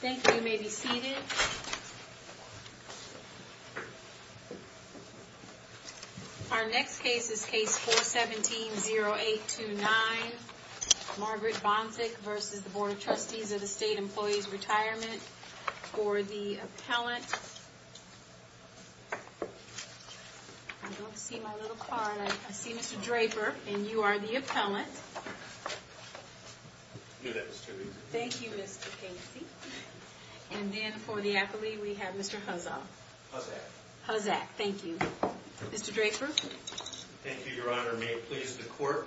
Thank you. You may be seated. Our next case is Case 417-0829. Margaret Bontik v. Board of Trustees of the State Employee's Retirement for the appellant. I don't see my little card. I see Mr. Draper, and you are the appellant. I knew that was too easy. Thank you, Mr. Casey. And then, for the appellee, we have Mr. Huzzah. Huzzah. Huzzah. Thank you. Mr. Draper. Thank you, Your Honor. May it please the Court,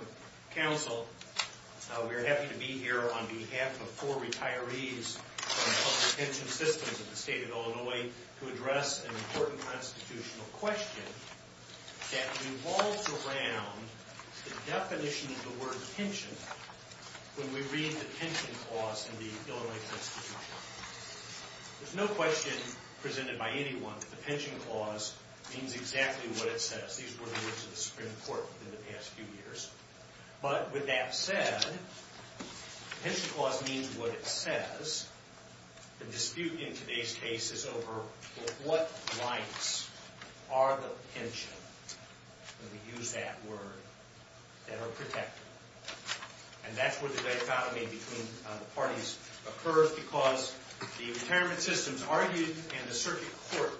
Counsel, we are happy to be here on behalf of four retirees from the Public Retention Systems of the State of Illinois to address an important constitutional question that revolves around the definition of the word pension when we read the pension clause in the Illinois Constitution. There's no question presented by anyone that the pension clause means exactly what it says. These were the words of the Supreme Court in the past few years. But, with that said, the pension clause means what it says. The dispute in today's case is over what rights are the pension, when we use that word, that are protected. And that's where the dichotomy between the parties occurs because the retirement systems argued, and the circuit court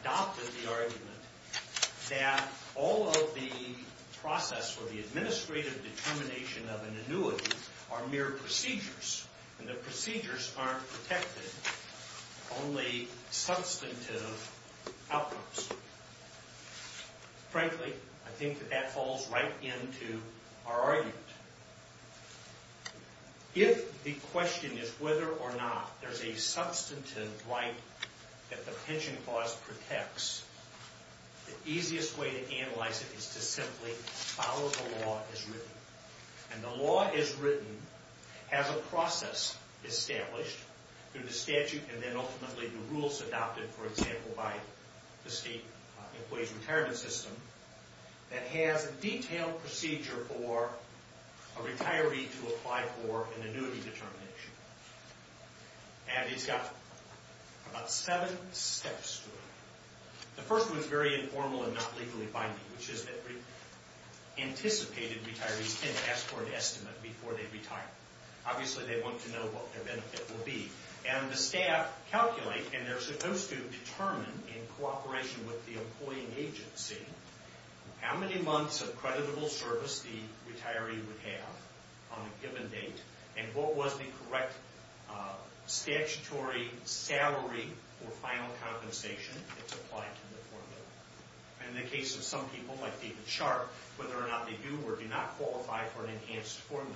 adopted the argument, that all of the process for the administrative determination of an annuity are mere procedures, and the procedures aren't protected, only substantive outcomes. Frankly, I think that that falls right into our argument. If the question is whether or not there's a substantive right that the pension clause protects, the easiest way to analyze it is to simply follow the law as written. And the law as written has a process established through the statute and then ultimately the rules adopted, for example, by the state employee's retirement system that has a detailed procedure for a retiree to apply for an annuity determination. And it's got about seven steps to it. The first one is very informal and not legally binding, which is that we anticipated retirees to ask for an estimate before they retire. Obviously, they want to know what their benefit will be. And the staff calculate, and they're supposed to determine, in cooperation with the employing agency, how many months of creditable service the retiree would have on a given date and what was the correct statutory salary for final compensation that's applied to the formula. And in the case of some people, like David Sharp, whether or not they do or do not qualify for an enhanced formula.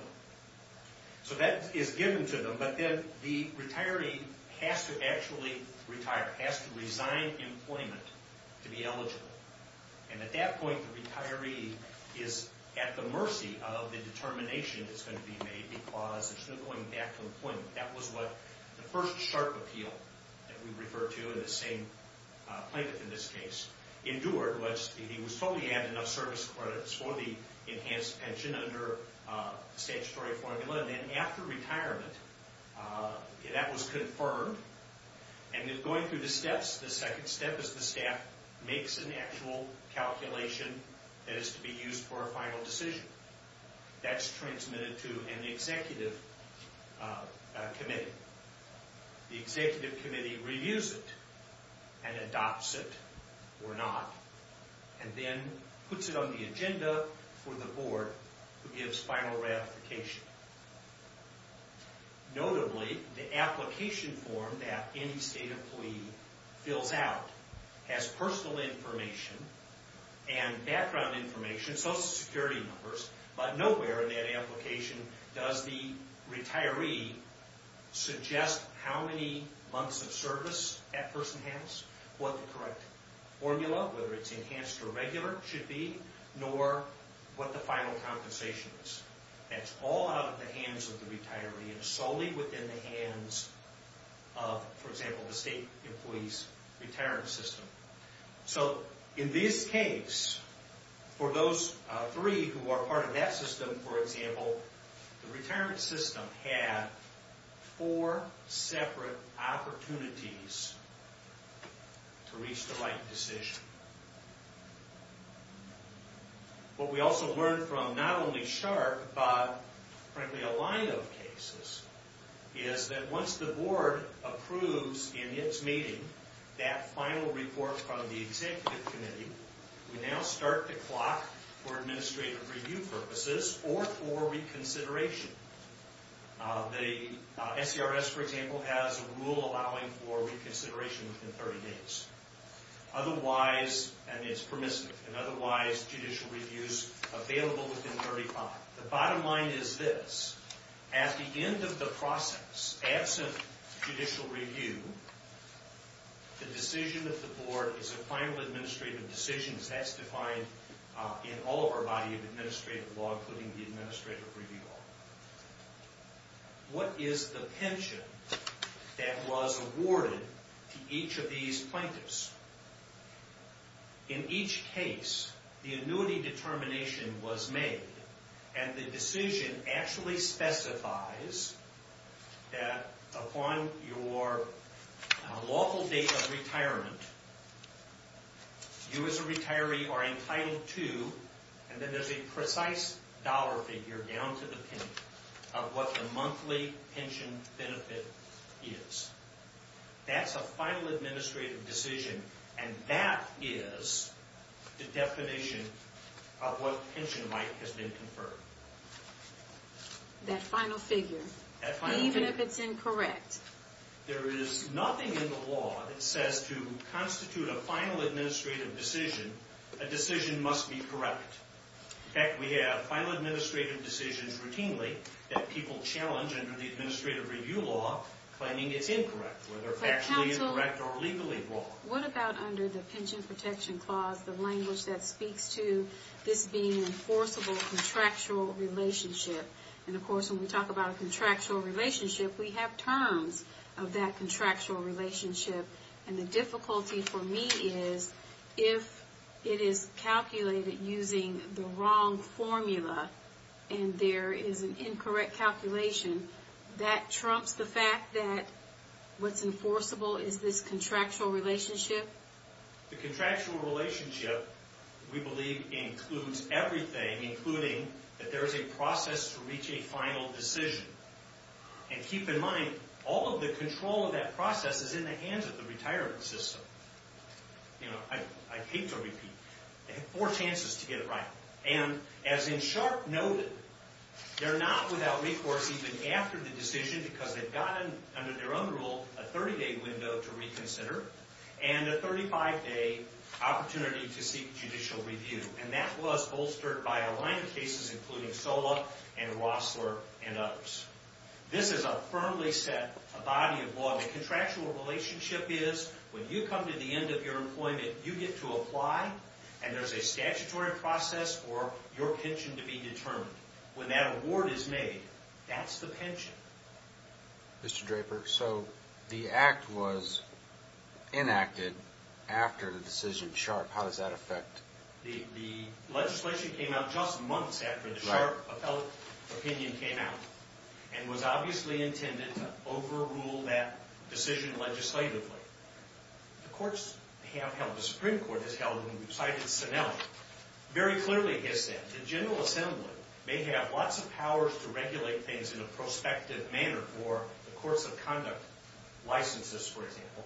So that is given to them, but then the retiree has to actually retire, has to resign employment to be eligible. And at that point, the retiree is at the mercy of the determination that's going to be made because it's going back to employment. That was what the first Sharp appeal that we refer to and the same plaintiff in this case endured. He was told he had enough service credits for the enhanced pension under the statutory formula. And then after retirement, that was confirmed. And going through the steps, the second step is the staff makes an actual calculation that is to be used for a final decision. That's transmitted to an executive committee. The executive committee reviews it and adopts it or not and then puts it on the agenda for the board who gives final ratification. Notably, the application form that any state employee fills out has personal information and background information, social security numbers, but nowhere in that application does the retiree suggest how many months of service that person has, what the correct formula, whether it's enhanced or regular, should be, nor what the final compensation is. That's all out of the hands of the retiree and solely within the hands of, for example, the state employee's retirement system. So in this case, for those three who are part of that system, for example, the retirement system had four separate opportunities to reach the right decision. What we also learned from not only Sharp but, frankly, a line of cases, is that once the board approves in its meeting that final report from the executive committee, we now start the clock for administrative review purposes or for reconsideration. The SCRS, for example, has a rule allowing for reconsideration within 30 days. Otherwise, and it's permissive, and otherwise judicial reviews available within 35. The bottom line is this. At the end of the process, absent judicial review, the decision of the board is a final administrative decision as that's defined in all of our body of administrative law, including the administrative review law. What is the pension that was awarded to each of these plaintiffs? In each case, the annuity determination was made, and the decision actually specifies that upon your lawful date of retirement, you as a retiree are entitled to, and then there's a precise dollar figure down to the penny, of what the monthly pension benefit is. That's a final administrative decision, and that is the definition of what pension right has been conferred. That final figure, even if it's incorrect. There is nothing in the law that says to constitute a final administrative decision, a decision must be correct. In fact, we have final administrative decisions routinely that people challenge under the administrative review law, claiming it's incorrect, whether factually correct or legally wrong. What about under the pension protection clause, the language that speaks to this being an enforceable contractual relationship? And of course, when we talk about a contractual relationship, we have terms of that contractual relationship, and the difficulty for me is, if it is calculated using the wrong formula, and there is an incorrect calculation, that trumps the fact that what's enforceable is this contractual relationship? The contractual relationship, we believe, includes everything, including that there is a process to reach a final decision. And keep in mind, all of the control of that process is in the hands of the retirement system. You know, I hate to repeat, they have four chances to get it right. And as in Sharpe noted, they're not without recourse even after the decision, because they've got, under their own rule, a 30-day window to reconsider, and a 35-day opportunity to seek judicial review. And that was bolstered by a line of cases, including Sola and Rossler and others. This is a firmly set body of law. The contractual relationship is, when you come to the end of your employment, you get to apply, and there's a statutory process for your pension to be determined. When that award is made, that's the pension. Mr. Draper, so the Act was enacted after the decision in Sharpe. How does that affect? The legislation came out just months after the Sharpe opinion came out, and was obviously intended to overrule that decision legislatively. The courts have held, the Supreme Court has held, and we've cited Sinelli, very clearly has said the General Assembly may have lots of powers to regulate things in a prospective manner for the courts of conduct, licenses, for example.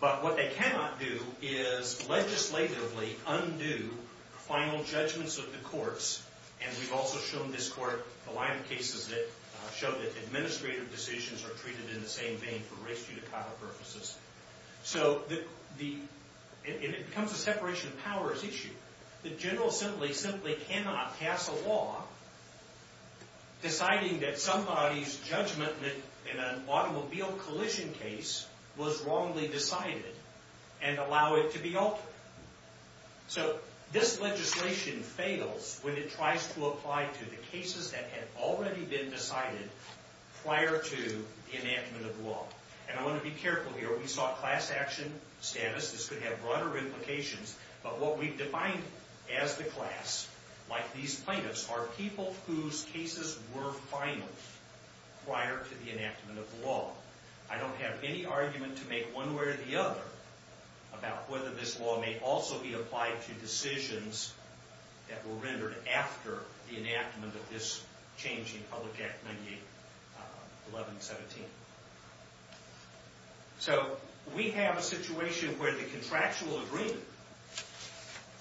But what they cannot do is legislatively undo final judgments of the courts, and we've also shown this court a line of cases that show that administrative decisions are treated in the same vein for race judicata purposes. So it becomes a separation of powers issue. The General Assembly simply cannot pass a law deciding that somebody's judgment in an automobile collision case was wrongly decided, and allow it to be altered. So this legislation fails when it tries to apply to the cases that had already been decided prior to the enactment of the law. And I want to be careful here. We saw class action status. This could have broader implications. But what we've defined as the class, like these plaintiffs, are people whose cases were final prior to the enactment of the law. I don't have any argument to make one way or the other after the enactment of this change in Public Act 98-1117. So we have a situation where the contractual agreement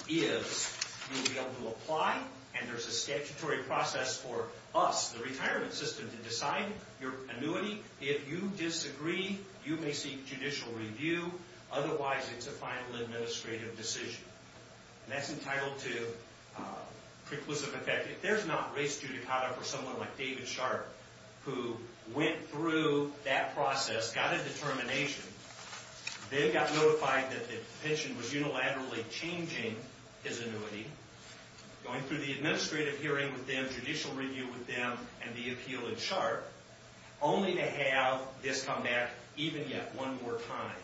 is you'll be able to apply, and there's a statutory process for us, the retirement system, to decide your annuity. If you disagree, you may seek judicial review. Otherwise, it's a final administrative decision. And that's entitled to preclusive effect. If there's not race judicata for someone like David Sharp, who went through that process, got a determination, then got notified that the pension was unilaterally changing his annuity, going through the administrative hearing with them, judicial review with them, and the appeal in Sharp, only to have this come back even yet one more time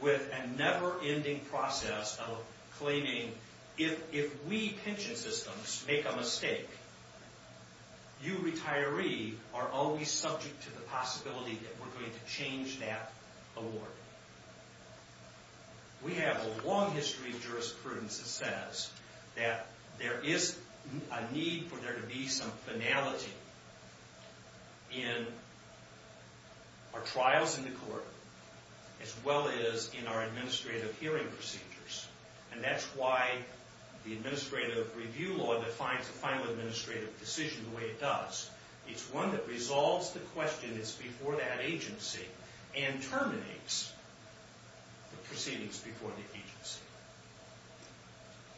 with a never-ending process of claiming, if we pension systems make a mistake, you retiree are always subject to the possibility that we're going to change that award. We have a long history of jurisprudence that says that there is a need for there to be some finality in our trials in the court, as well as in our administrative hearing procedures. And that's why the administrative review law defines a final administrative decision the way it does. It's one that resolves the question that's before that agency and terminates the proceedings before the agency.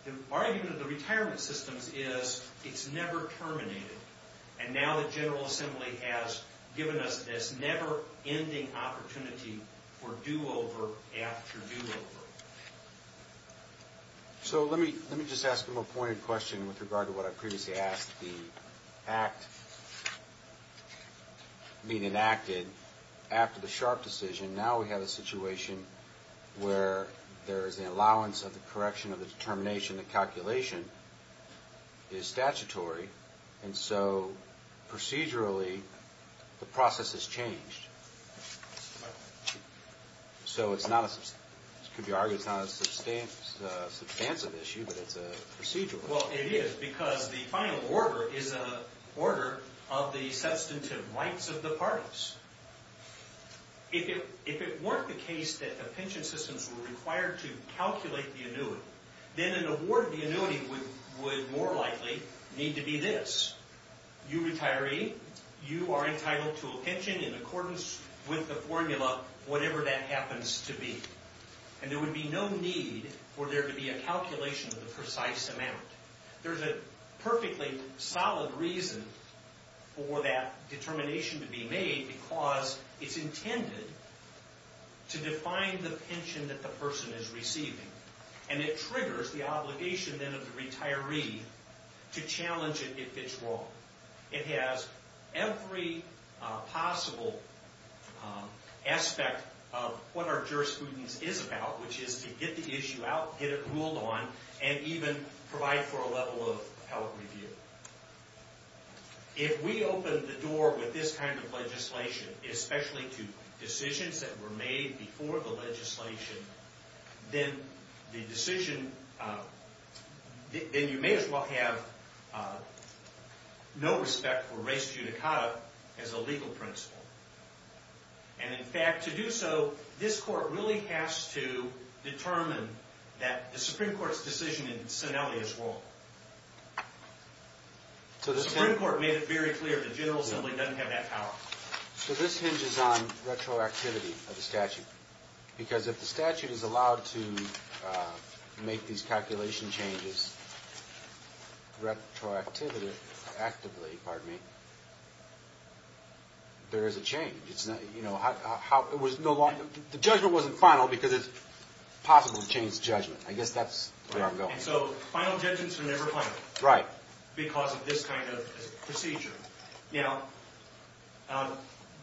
The argument of the retirement systems is it's never terminated. And now the General Assembly has given us this never-ending opportunity for do-over after do-over. So let me just ask a more pointed question with regard to what I previously asked. The act being enacted after the Sharp decision, now we have a situation where there is an allowance of the correction of the determination, the calculation is statutory, and so procedurally the process has changed. So it could be argued it's not a substantive issue, but it's a procedural issue. Well, it is because the final order is an order of the substantive rights of the parties. If it weren't the case that the pension systems were required to calculate the annuity, then an award of the annuity would more likely need to be this. You retiree, you are entitled to a pension in accordance with the formula, whatever that happens to be. And there would be no need for there to be a calculation of the precise amount. There's a perfectly solid reason for that determination to be made because it's intended to define the pension that the person is receiving. And it triggers the obligation then of the retiree to challenge it if it's wrong. It has every possible aspect of what our jurisprudence is about, which is to get the issue out, get it ruled on, and even provide for a level of held review. If we open the door with this kind of legislation, especially to decisions that were made before the legislation, then you may as well have no respect for res judicata as a legal principle. And in fact, to do so, this Court really has to determine that the Supreme Court's decision in Sinelli is wrong. The Supreme Court made it very clear the General Assembly doesn't have that power. So this hinges on retroactivity of the statute. Because if the statute is allowed to make these calculation changes retroactively, there is a change. The judgment wasn't final because it's possible to change the judgment. I guess that's where I'm going. And so final judgments are never final because of this kind of procedure. Now,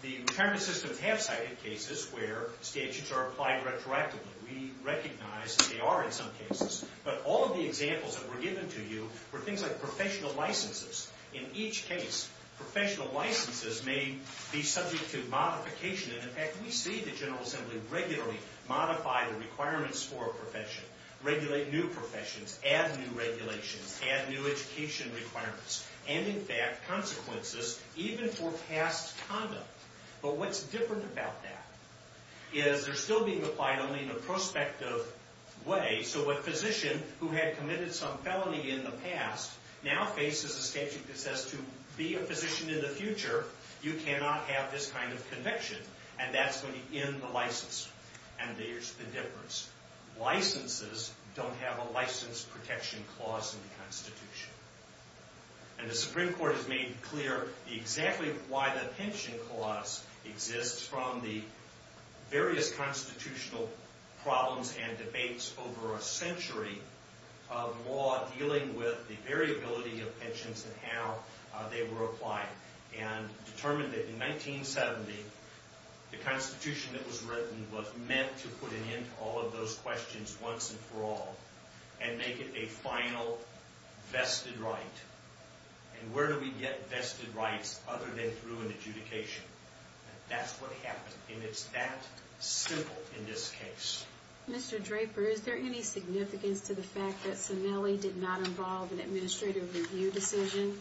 the retirement system has cited cases where statutes are applied retroactively. We recognize that they are in some cases. But all of the examples that were given to you were things like professional licenses. In each case, professional licenses may be subject to modification. And in fact, we see the General Assembly regularly modify the requirements for a profession, regulate new professions, add new regulations, add new education requirements. And in fact, consequences even for past conduct. But what's different about that is they're still being applied only in a prospective way. So a physician who had committed some felony in the past now faces a statute that says to be a physician in the future, you cannot have this kind of conviction. And that's going to end the license. And there's the difference. Licenses don't have a license protection clause in the Constitution. And the Supreme Court has made clear exactly why the pension clause exists from the various constitutional problems and debates over a century of law dealing with the variability of pensions and how they were applied and determined that in 1970, the Constitution that was written was meant to put an end to all of those questions once and for all and make it a final vested right. And where do we get vested rights other than through an adjudication? That's what happened. And it's that simple in this case. Mr. Draper, is there any significance to the fact that Sonnelli did not involve an administrative review decision?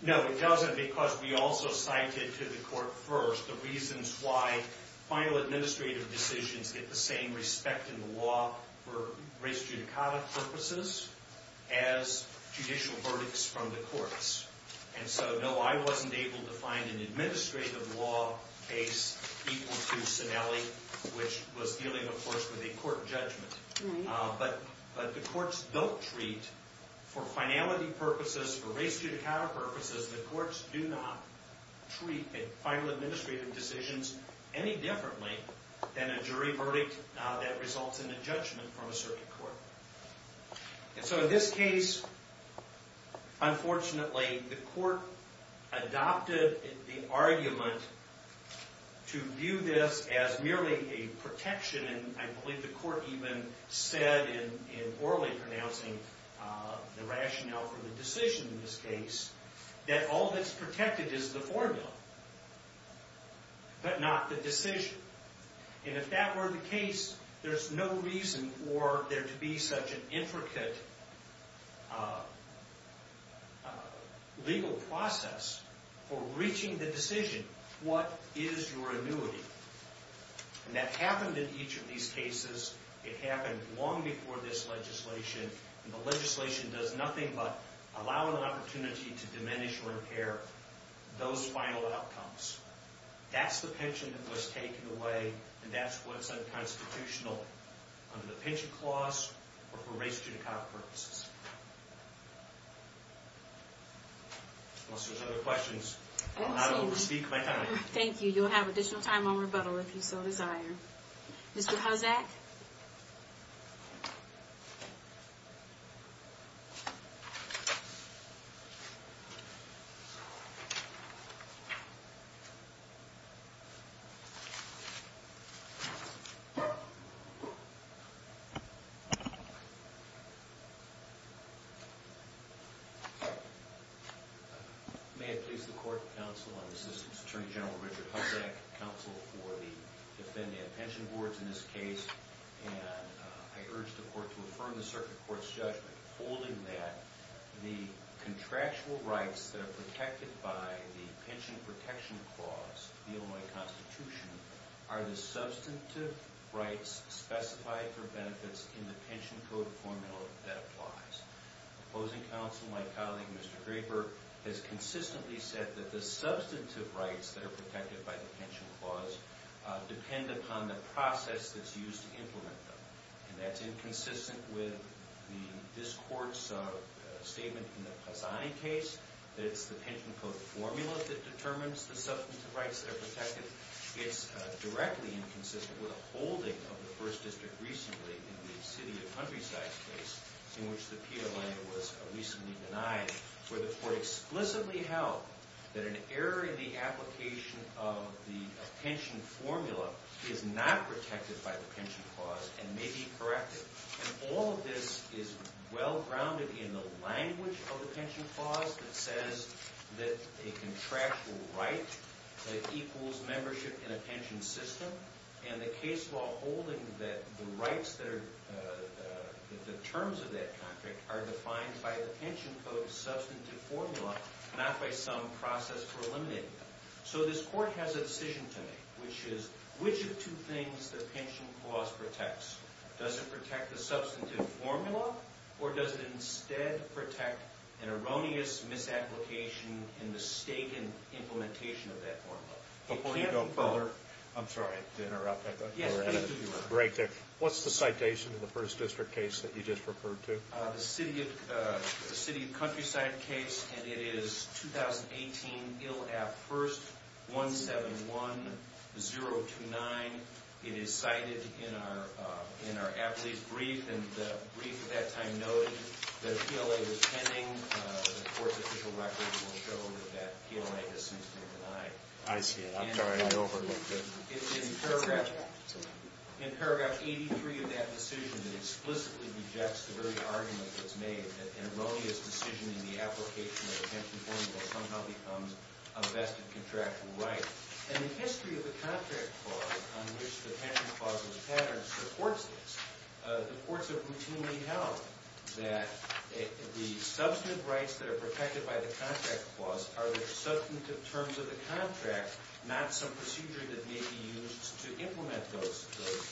No, it doesn't because we also cited to the court first the reasons why final administrative decisions get the same respect in the law for race judicata purposes as judicial verdicts from the courts. And so, no, I wasn't able to find an administrative law case equal to Sonnelli, which was dealing, of course, with a court judgment. But the courts don't treat for finality purposes, for race judicata purposes, the courts do not treat final administrative decisions any differently than a jury verdict that results in a judgment from a circuit court. And so in this case, unfortunately, the court adopted the argument to view this as merely a protection, and I believe the court even said in orally pronouncing the rationale for the decision in this case that all that's protected is the formula, but not the decision. And if that were the case, there's no reason for there to be such an intricate legal process for reaching the decision, what is your annuity? And that happened in each of these cases, it happened long before this legislation, and the legislation does nothing but allow an opportunity to diminish or impair those final outcomes. That's the pension that was taken away, and that's what's unconstitutional under the pension clause or for race judicata purposes. Unless there's other questions, I'm not able to speak my time. Thank you, you'll have additional time on rebuttal if you so desire. Mr. Hozak? May I please the court, counsel, and Assistant Attorney General Richard Hozak, counsel for the defendant and pension boards in this case, and I urge the court to affirm the circuit court's judgment holding that the contractual rights that are protected by the pension protection clause, the Illinois Constitution, are the substantive rights specified for benefits in the pension code formula that applies. Opposing counsel, my colleague, Mr. Draper, has consistently said that the substantive rights that are protected by the pension clause depend upon the process that's used to implement them. And that's inconsistent with this court's statement in the Cassani case, that it's the pension code formula that determines the substantive rights that are protected. It's directly inconsistent with a holding of the first district recently in the city of Huntryside case, in which the PIA lender was recently denied, where the court explicitly held that an error in the application of the pension formula is not protected by the pension clause and may be corrected. And all of this is well-grounded in the language of the pension clause that says that a contractual right equals membership in a pension system, and the case law holding that the rights that are the terms of that contract are defined by the pension code's substantive formula, not by some process for eliminating them. So this court has a decision to make, which is, which of two things the pension clause protects? Does it protect the substantive formula, or does it instead protect an erroneous misapplication and mistaken implementation of that formula? It can't be both. Before you go further, I'm sorry to interrupt. What's the citation in the first district case that you just referred to? The city of Huntryside case, and it is 2018 ILAP 1st 171029. It is cited in our athlete brief, and the brief at that time noted that a PLA was pending. The court's official records will show that that PLA has since been denied. I see it. I'm sorry, I overlooked it. In paragraph 83 of that decision, it explicitly rejects the very argument that's made that an erroneous decision in the application of the pension formula somehow becomes a vested contractual right. And the history of the contract clause, on which the pension clause was patterned, supports this. The courts have routinely held that the substantive rights that are protected by the contract clause are the substantive terms of the contract, not some procedure that may be used to implement those terms.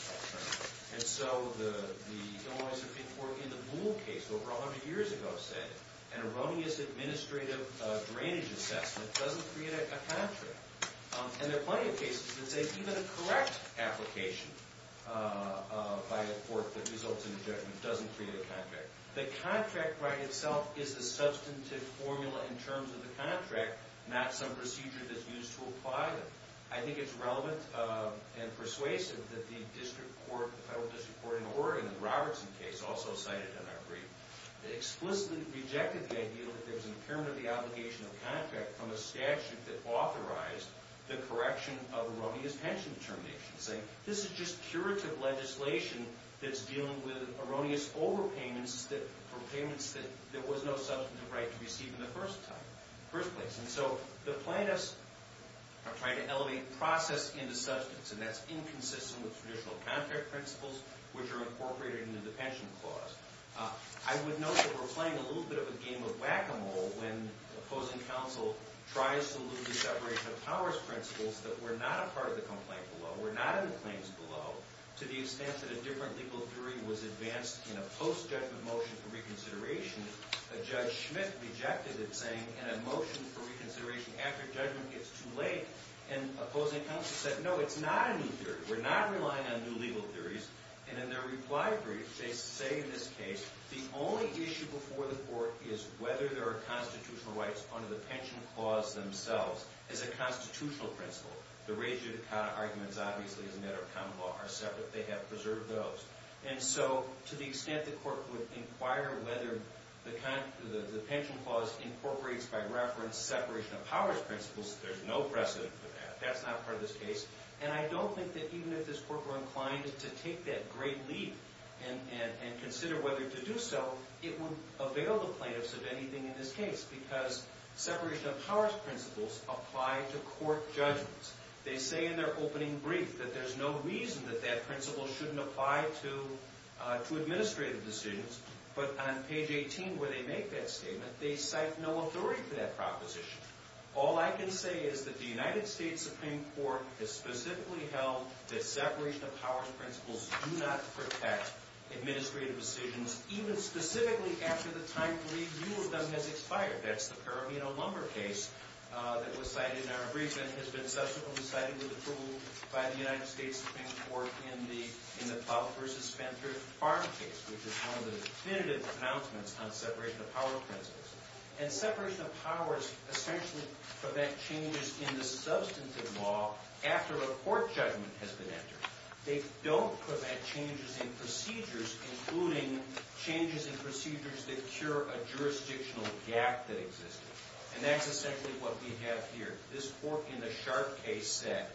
And so the Illinois Supreme Court in the Boole case over 100 years ago said an erroneous administrative drainage assessment doesn't create a contract. And there are plenty of cases that say even a correct application by a court that results in a judgment doesn't create a contract. The contract right itself is the substantive formula in terms of the contract, not some procedure that's used to apply them. I think it's relevant and persuasive that the federal district court in Oregon, in the Robertson case also cited in our brief, explicitly rejected the idea that there was an impairment of the obligation of contract from a statute that authorized the correction of erroneous pension determinations, saying this is just curative legislation that's dealing with erroneous overpayments for payments that there was no substantive right to receive in the first place. And so the plaintiffs are trying to elevate process into substance, and that's inconsistent with traditional contract principles, which are incorporated into the pension clause. I would note that we're playing a little bit of a game of whack-a-mole when the opposing counsel tries to lose the separation of powers principles that were not a part of the complaint below, were not in the claims below, to the extent that a different legal theory was advanced in a post-judgment motion for reconsideration. Judge Schmidt rejected it, saying in a motion for reconsideration after judgment gets too late, and opposing counsel said, no, it's not a new theory. We're not relying on new legal theories. And in their reply brief, they say in this case, the only issue before the court is whether there are constitutional rights under the pension clause themselves as a constitutional principle. The rage arguments, obviously, as a matter of common law, are separate. They have preserved those. And so to the extent the court would inquire whether the pension clause incorporates by reference separation of powers principles, there's no precedent for that. That's not part of this case. And I don't think that even if this court were inclined to take that great leap and consider whether to do so, it would avail the plaintiffs of anything in this case because separation of powers principles apply to court judgments. They say in their opening brief that there's no reason that that principle shouldn't apply to administrative decisions, but on page 18 where they make that statement, they cite no authority for that proposition. All I can say is that the United States Supreme Court has specifically held that separation of powers principles do not protect administrative decisions, even specifically after the time period you have done has expired. That's the paramino lumber case that was cited in our briefs and has been subsequently cited with approval by the United States Supreme Court in the Plow v. Spencer farm case, which is one of the definitive pronouncements on separation of powers principles. And separation of powers essentially prevent changes in the substantive law after a court judgment has been entered. They don't prevent changes in procedures, including changes in procedures that cure a jurisdictional gap that existed. And that's essentially what we have here. This court in the Sharp case said,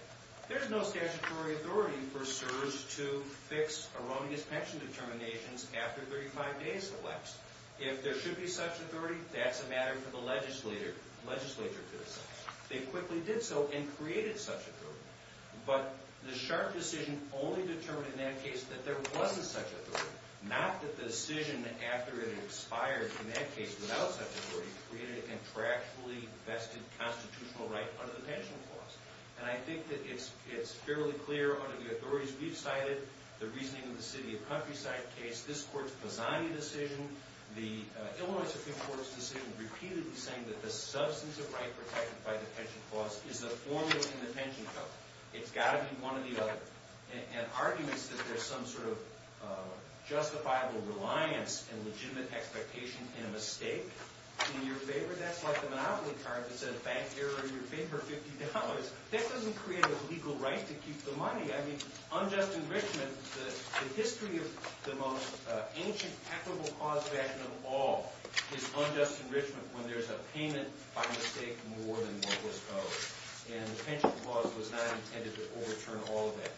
there's no statutory authority for CSRS to fix erroneous pension determinations after 35 days have elapsed. If there should be such authority, that's a matter for the legislature to decide. They quickly did so and created such authority. But the Sharp decision only determined in that case that there wasn't such authority, not that the decision after it expired, in that case without such authority, created a contractually vested constitutional right under the pension clause. And I think that it's fairly clear under the authorities we've cited, the reasoning of the City of Countryside case, this court's Pazani decision, the Illinois Supreme Court's decision repeatedly saying that the substantive right protected by the pension clause is the formula in the pension code. It's got to be one or the other. And arguments that there's some sort of justifiable reliance and legitimate expectation in a mistake, in your favor, that's like the monopoly card that says bank error in your favor, $50. That doesn't create a legal right to keep the money. I mean, unjust enrichment, the history of the most ancient equitable cause of action of all is unjust enrichment when there's a payment by mistake more than what was owed. And the pension clause was not intended to overturn all of that.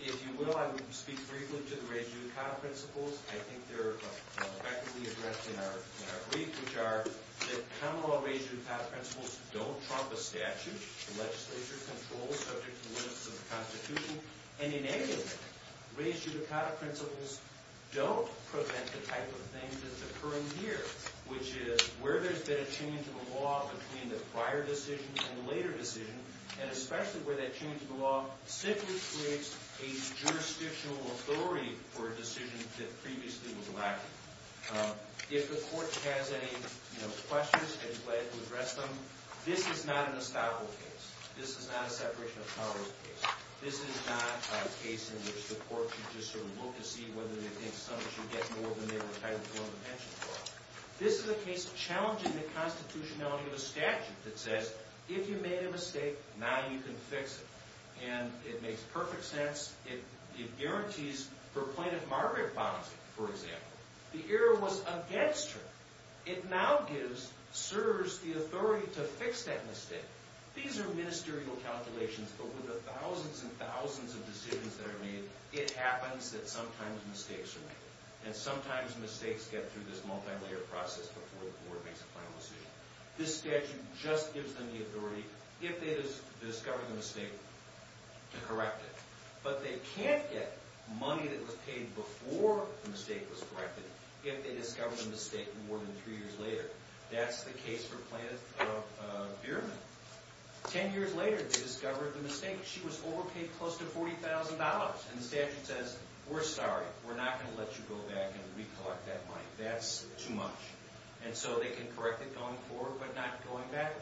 If you will, I will speak briefly to the res judicata principles. I think they're effectively addressed in our brief, which are that common law res judicata principles don't trump a statute. The legislature controls subject to the limits of the Constitution. And in any event, res judicata principles don't prevent the type of things that's occurring here, which is where there's been a change in the law between the prior decision and the later decision, and especially where that change in the law simply creates a jurisdictional authority for a decision that previously was lacking. If the court has any questions, I'd be glad to address them. This is not an estoppel case. This is not a separation of powers case. This is not a case in which the court can just sort of look to see whether they think someone should get more than they were entitled to on the pension clause. This is a case challenging the constitutionality of a statute that says, if you made a mistake, now you can fix it. And it makes perfect sense. It guarantees for plaintiff Margaret Bonacy, for example, the error was against her. It now gives CSRS the authority to fix that mistake. These are ministerial calculations, but with the thousands and thousands of decisions that are made, it happens that sometimes mistakes are made. And sometimes mistakes get through this multilayered process before the court makes a final decision. This statute just gives them the authority, if they discover the mistake, to correct it. But they can't get money that was paid before the mistake was corrected if they discover the mistake more than three years later. That's the case for Plaintiff Bierman. Ten years later, they discover the mistake. She was overpaid close to $40,000. And the statute says, we're sorry. We're not going to let you go back and recollect that money. That's too much. And so they can correct it going forward but not going back.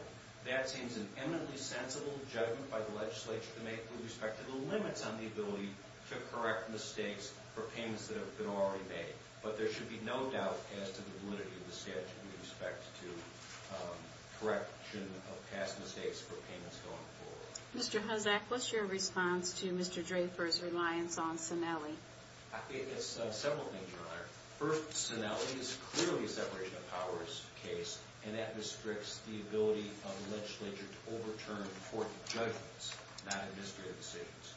That seems an eminently sensible judgment by the legislature to make with respect to the limits on the ability to correct mistakes for payments that have been already made. But there should be no doubt as to the validity of the statute with respect to correction of past mistakes for payments going forward. Mr. Hozak, what's your response to Mr. Draper's reliance on Sinelli? I think it's several things, Your Honor. First, Sinelli is clearly a separation of powers case, and that restricts the ability of the legislature to overturn important judgments, not administrative decisions.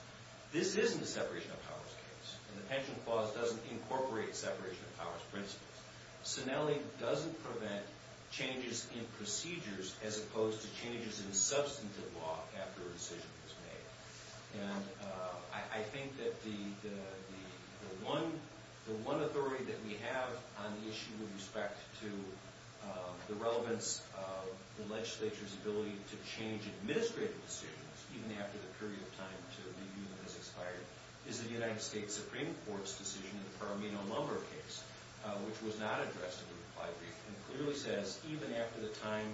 This isn't a separation of powers case. And the pension clause doesn't incorporate separation of powers principles. Sinelli doesn't prevent changes in procedures as opposed to changes in substantive law after a decision is made. And I think that the one authority that we have on the issue with respect to the relevance of the legislature's ability to change administrative decisions, even after the period of time to review them has expired, is the United States Supreme Court's decision in the Paramino-Lumber case, which was not addressed in the reply brief. And it clearly says, even after the time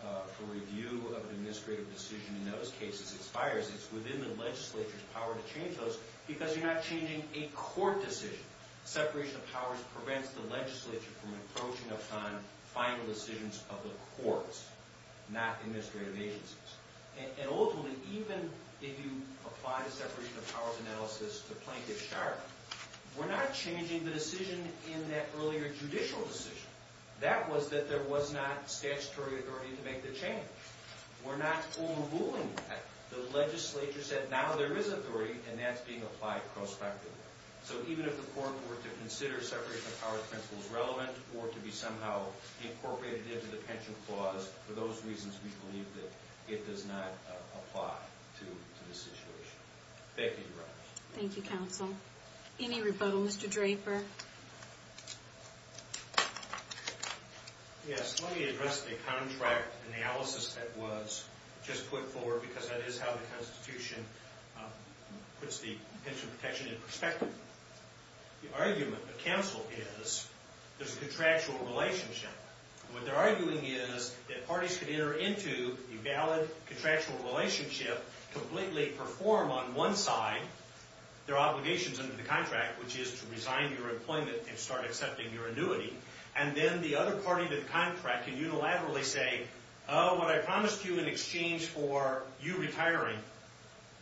for review of an administrative decision in those cases expires, it's within the legislature's power to change those because you're not changing a court decision. Separation of powers prevents the legislature from approaching upon final decisions of the courts, not administrative agencies. And ultimately, even if you apply the separation of powers analysis to plaintiff's charge, we're not changing the decision in that earlier judicial decision. That was that there was not statutory authority to make the change. We're not overruling that. The legislature said, now there is authority, and that's being applied prospectively. So even if the court were to consider separation of powers principles relevant or to be somehow incorporated into the pension clause, for those reasons we believe that it does not apply to this situation. Thank you, Your Honor. Thank you, counsel. Any rebuttal? Mr. Draper. Yes, let me address the contract analysis that was just put forward because that is how the Constitution puts the pension protection in perspective. The argument of counsel is there's a contractual relationship. What they're arguing is that parties could enter into a valid contractual relationship, completely perform on one side their obligations under the contract, which is to resign your employment and start accepting your annuity, and then the other party to the contract can unilaterally say, oh, what I promised you in exchange for you retiring,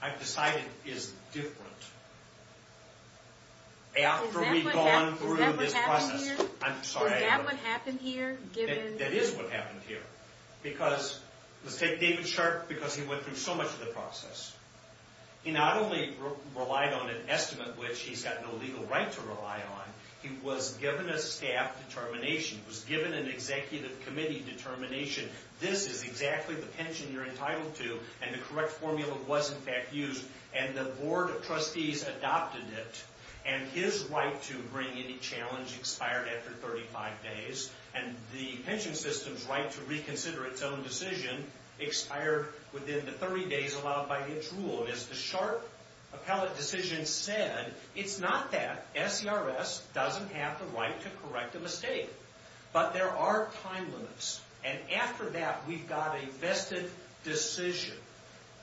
I've decided is different. After we've gone through this process. Is that what happened here? That is what happened here. Let's take David Sharp because he went through so much of the process. He not only relied on an estimate which he's got no legal right to rely on, he was given a staff determination, was given an executive committee determination, this is exactly the pension you're entitled to, and the correct formula was in fact used, and the board of trustees adopted it, and his right to bring any challenge expired after 35 days, and the pension system's right to reconsider its own decision expired within the 30 days allowed by its rule. As the Sharp appellate decision said, it's not that. SCRS doesn't have the right to correct a mistake, but there are time limits, and after that we've got a vested decision.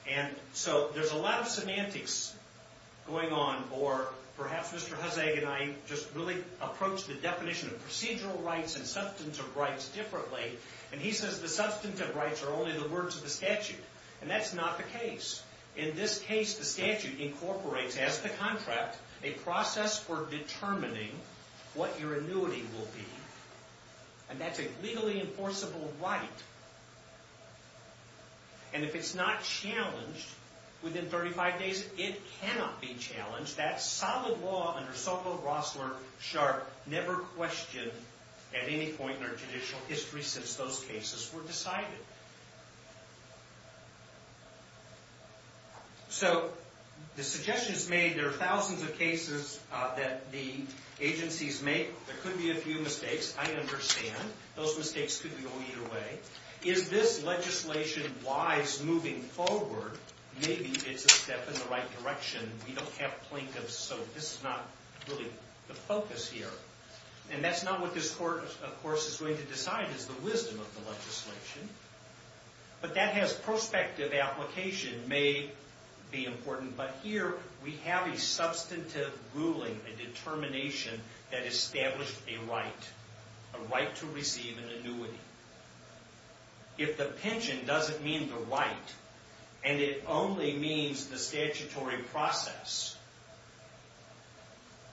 And so there's a lot of semantics going on, or perhaps Mr. Hussage and I just really approached the definition of procedural rights and substantive rights differently, and he says the substantive rights are only the words of the statute, and that's not the case. In this case, the statute incorporates as the contract a process for determining what your annuity will be, and that's a legally enforceable right. And if it's not challenged within 35 days, it cannot be challenged. That's solid law under Sokol, Rossler, Sharp, never questioned at any point in our judicial history since those cases were decided. So the suggestions made, there are thousands of cases that the agencies make, there could be a few mistakes, I understand, those mistakes could be all either way. Is this legislation wise moving forward? Maybe it's a step in the right direction. We don't have plaintiffs, so this is not really the focus here. And that's not what this court, of course, is going to decide is the wisdom of the legislation. But that has prospective application may be important, but here we have a substantive ruling, a determination that established a right, a right to receive an annuity. If the pension doesn't mean the right, and it only means the statutory process,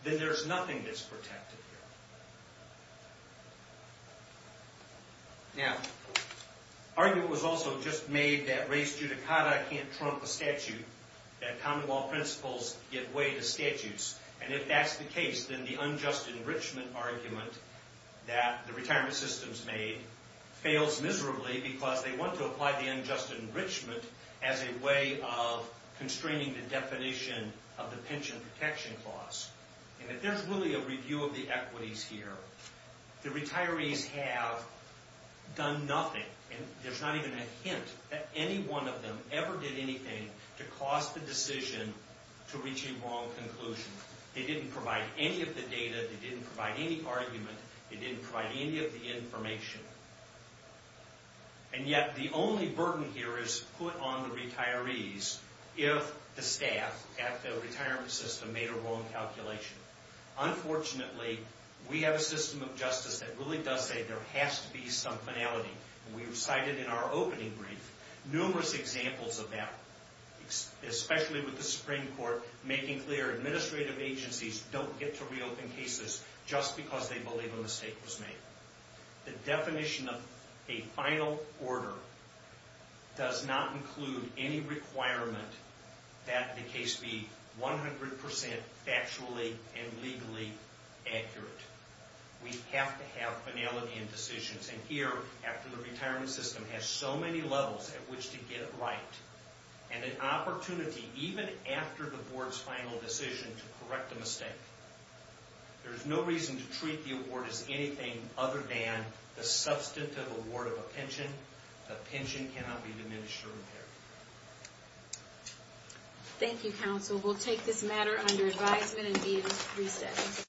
then there's nothing that's protected here. Now, argument was also just made that res judicata can't trump a statute, that common law principles give way to statutes. And if that's the case, then the unjust enrichment argument that the retirement system's made fails miserably because they want to apply the unjust enrichment as a way of constraining the definition of the pension protection clause. And if there's really a review of the equities here, the retirees have done nothing, and there's not even a hint that any one of them ever did anything to cause the decision to reach a wrong conclusion. They didn't provide any of the data, they didn't provide any argument, they didn't provide any of the information. And yet the only burden here is put on the retirees if the staff at the retirement system made a wrong calculation. Unfortunately, we have a system of justice that really does say there has to be some finality. We've cited in our opening brief numerous examples of that, especially with the Supreme Court making clear administrative agencies don't get to reopen cases just because they believe a mistake was made. The definition of a final order does not include any requirement that the case be 100% factually and legally accurate. We have to have finality in decisions. And here, after the retirement system has so many levels at which to get it right, and an opportunity even after the board's final decision to correct a mistake, there's no reason to treat the award as anything other than the substantive award of a pension. A pension cannot be diminished or repaired. Thank you, counsel. We'll take this matter under advisement and be in recess.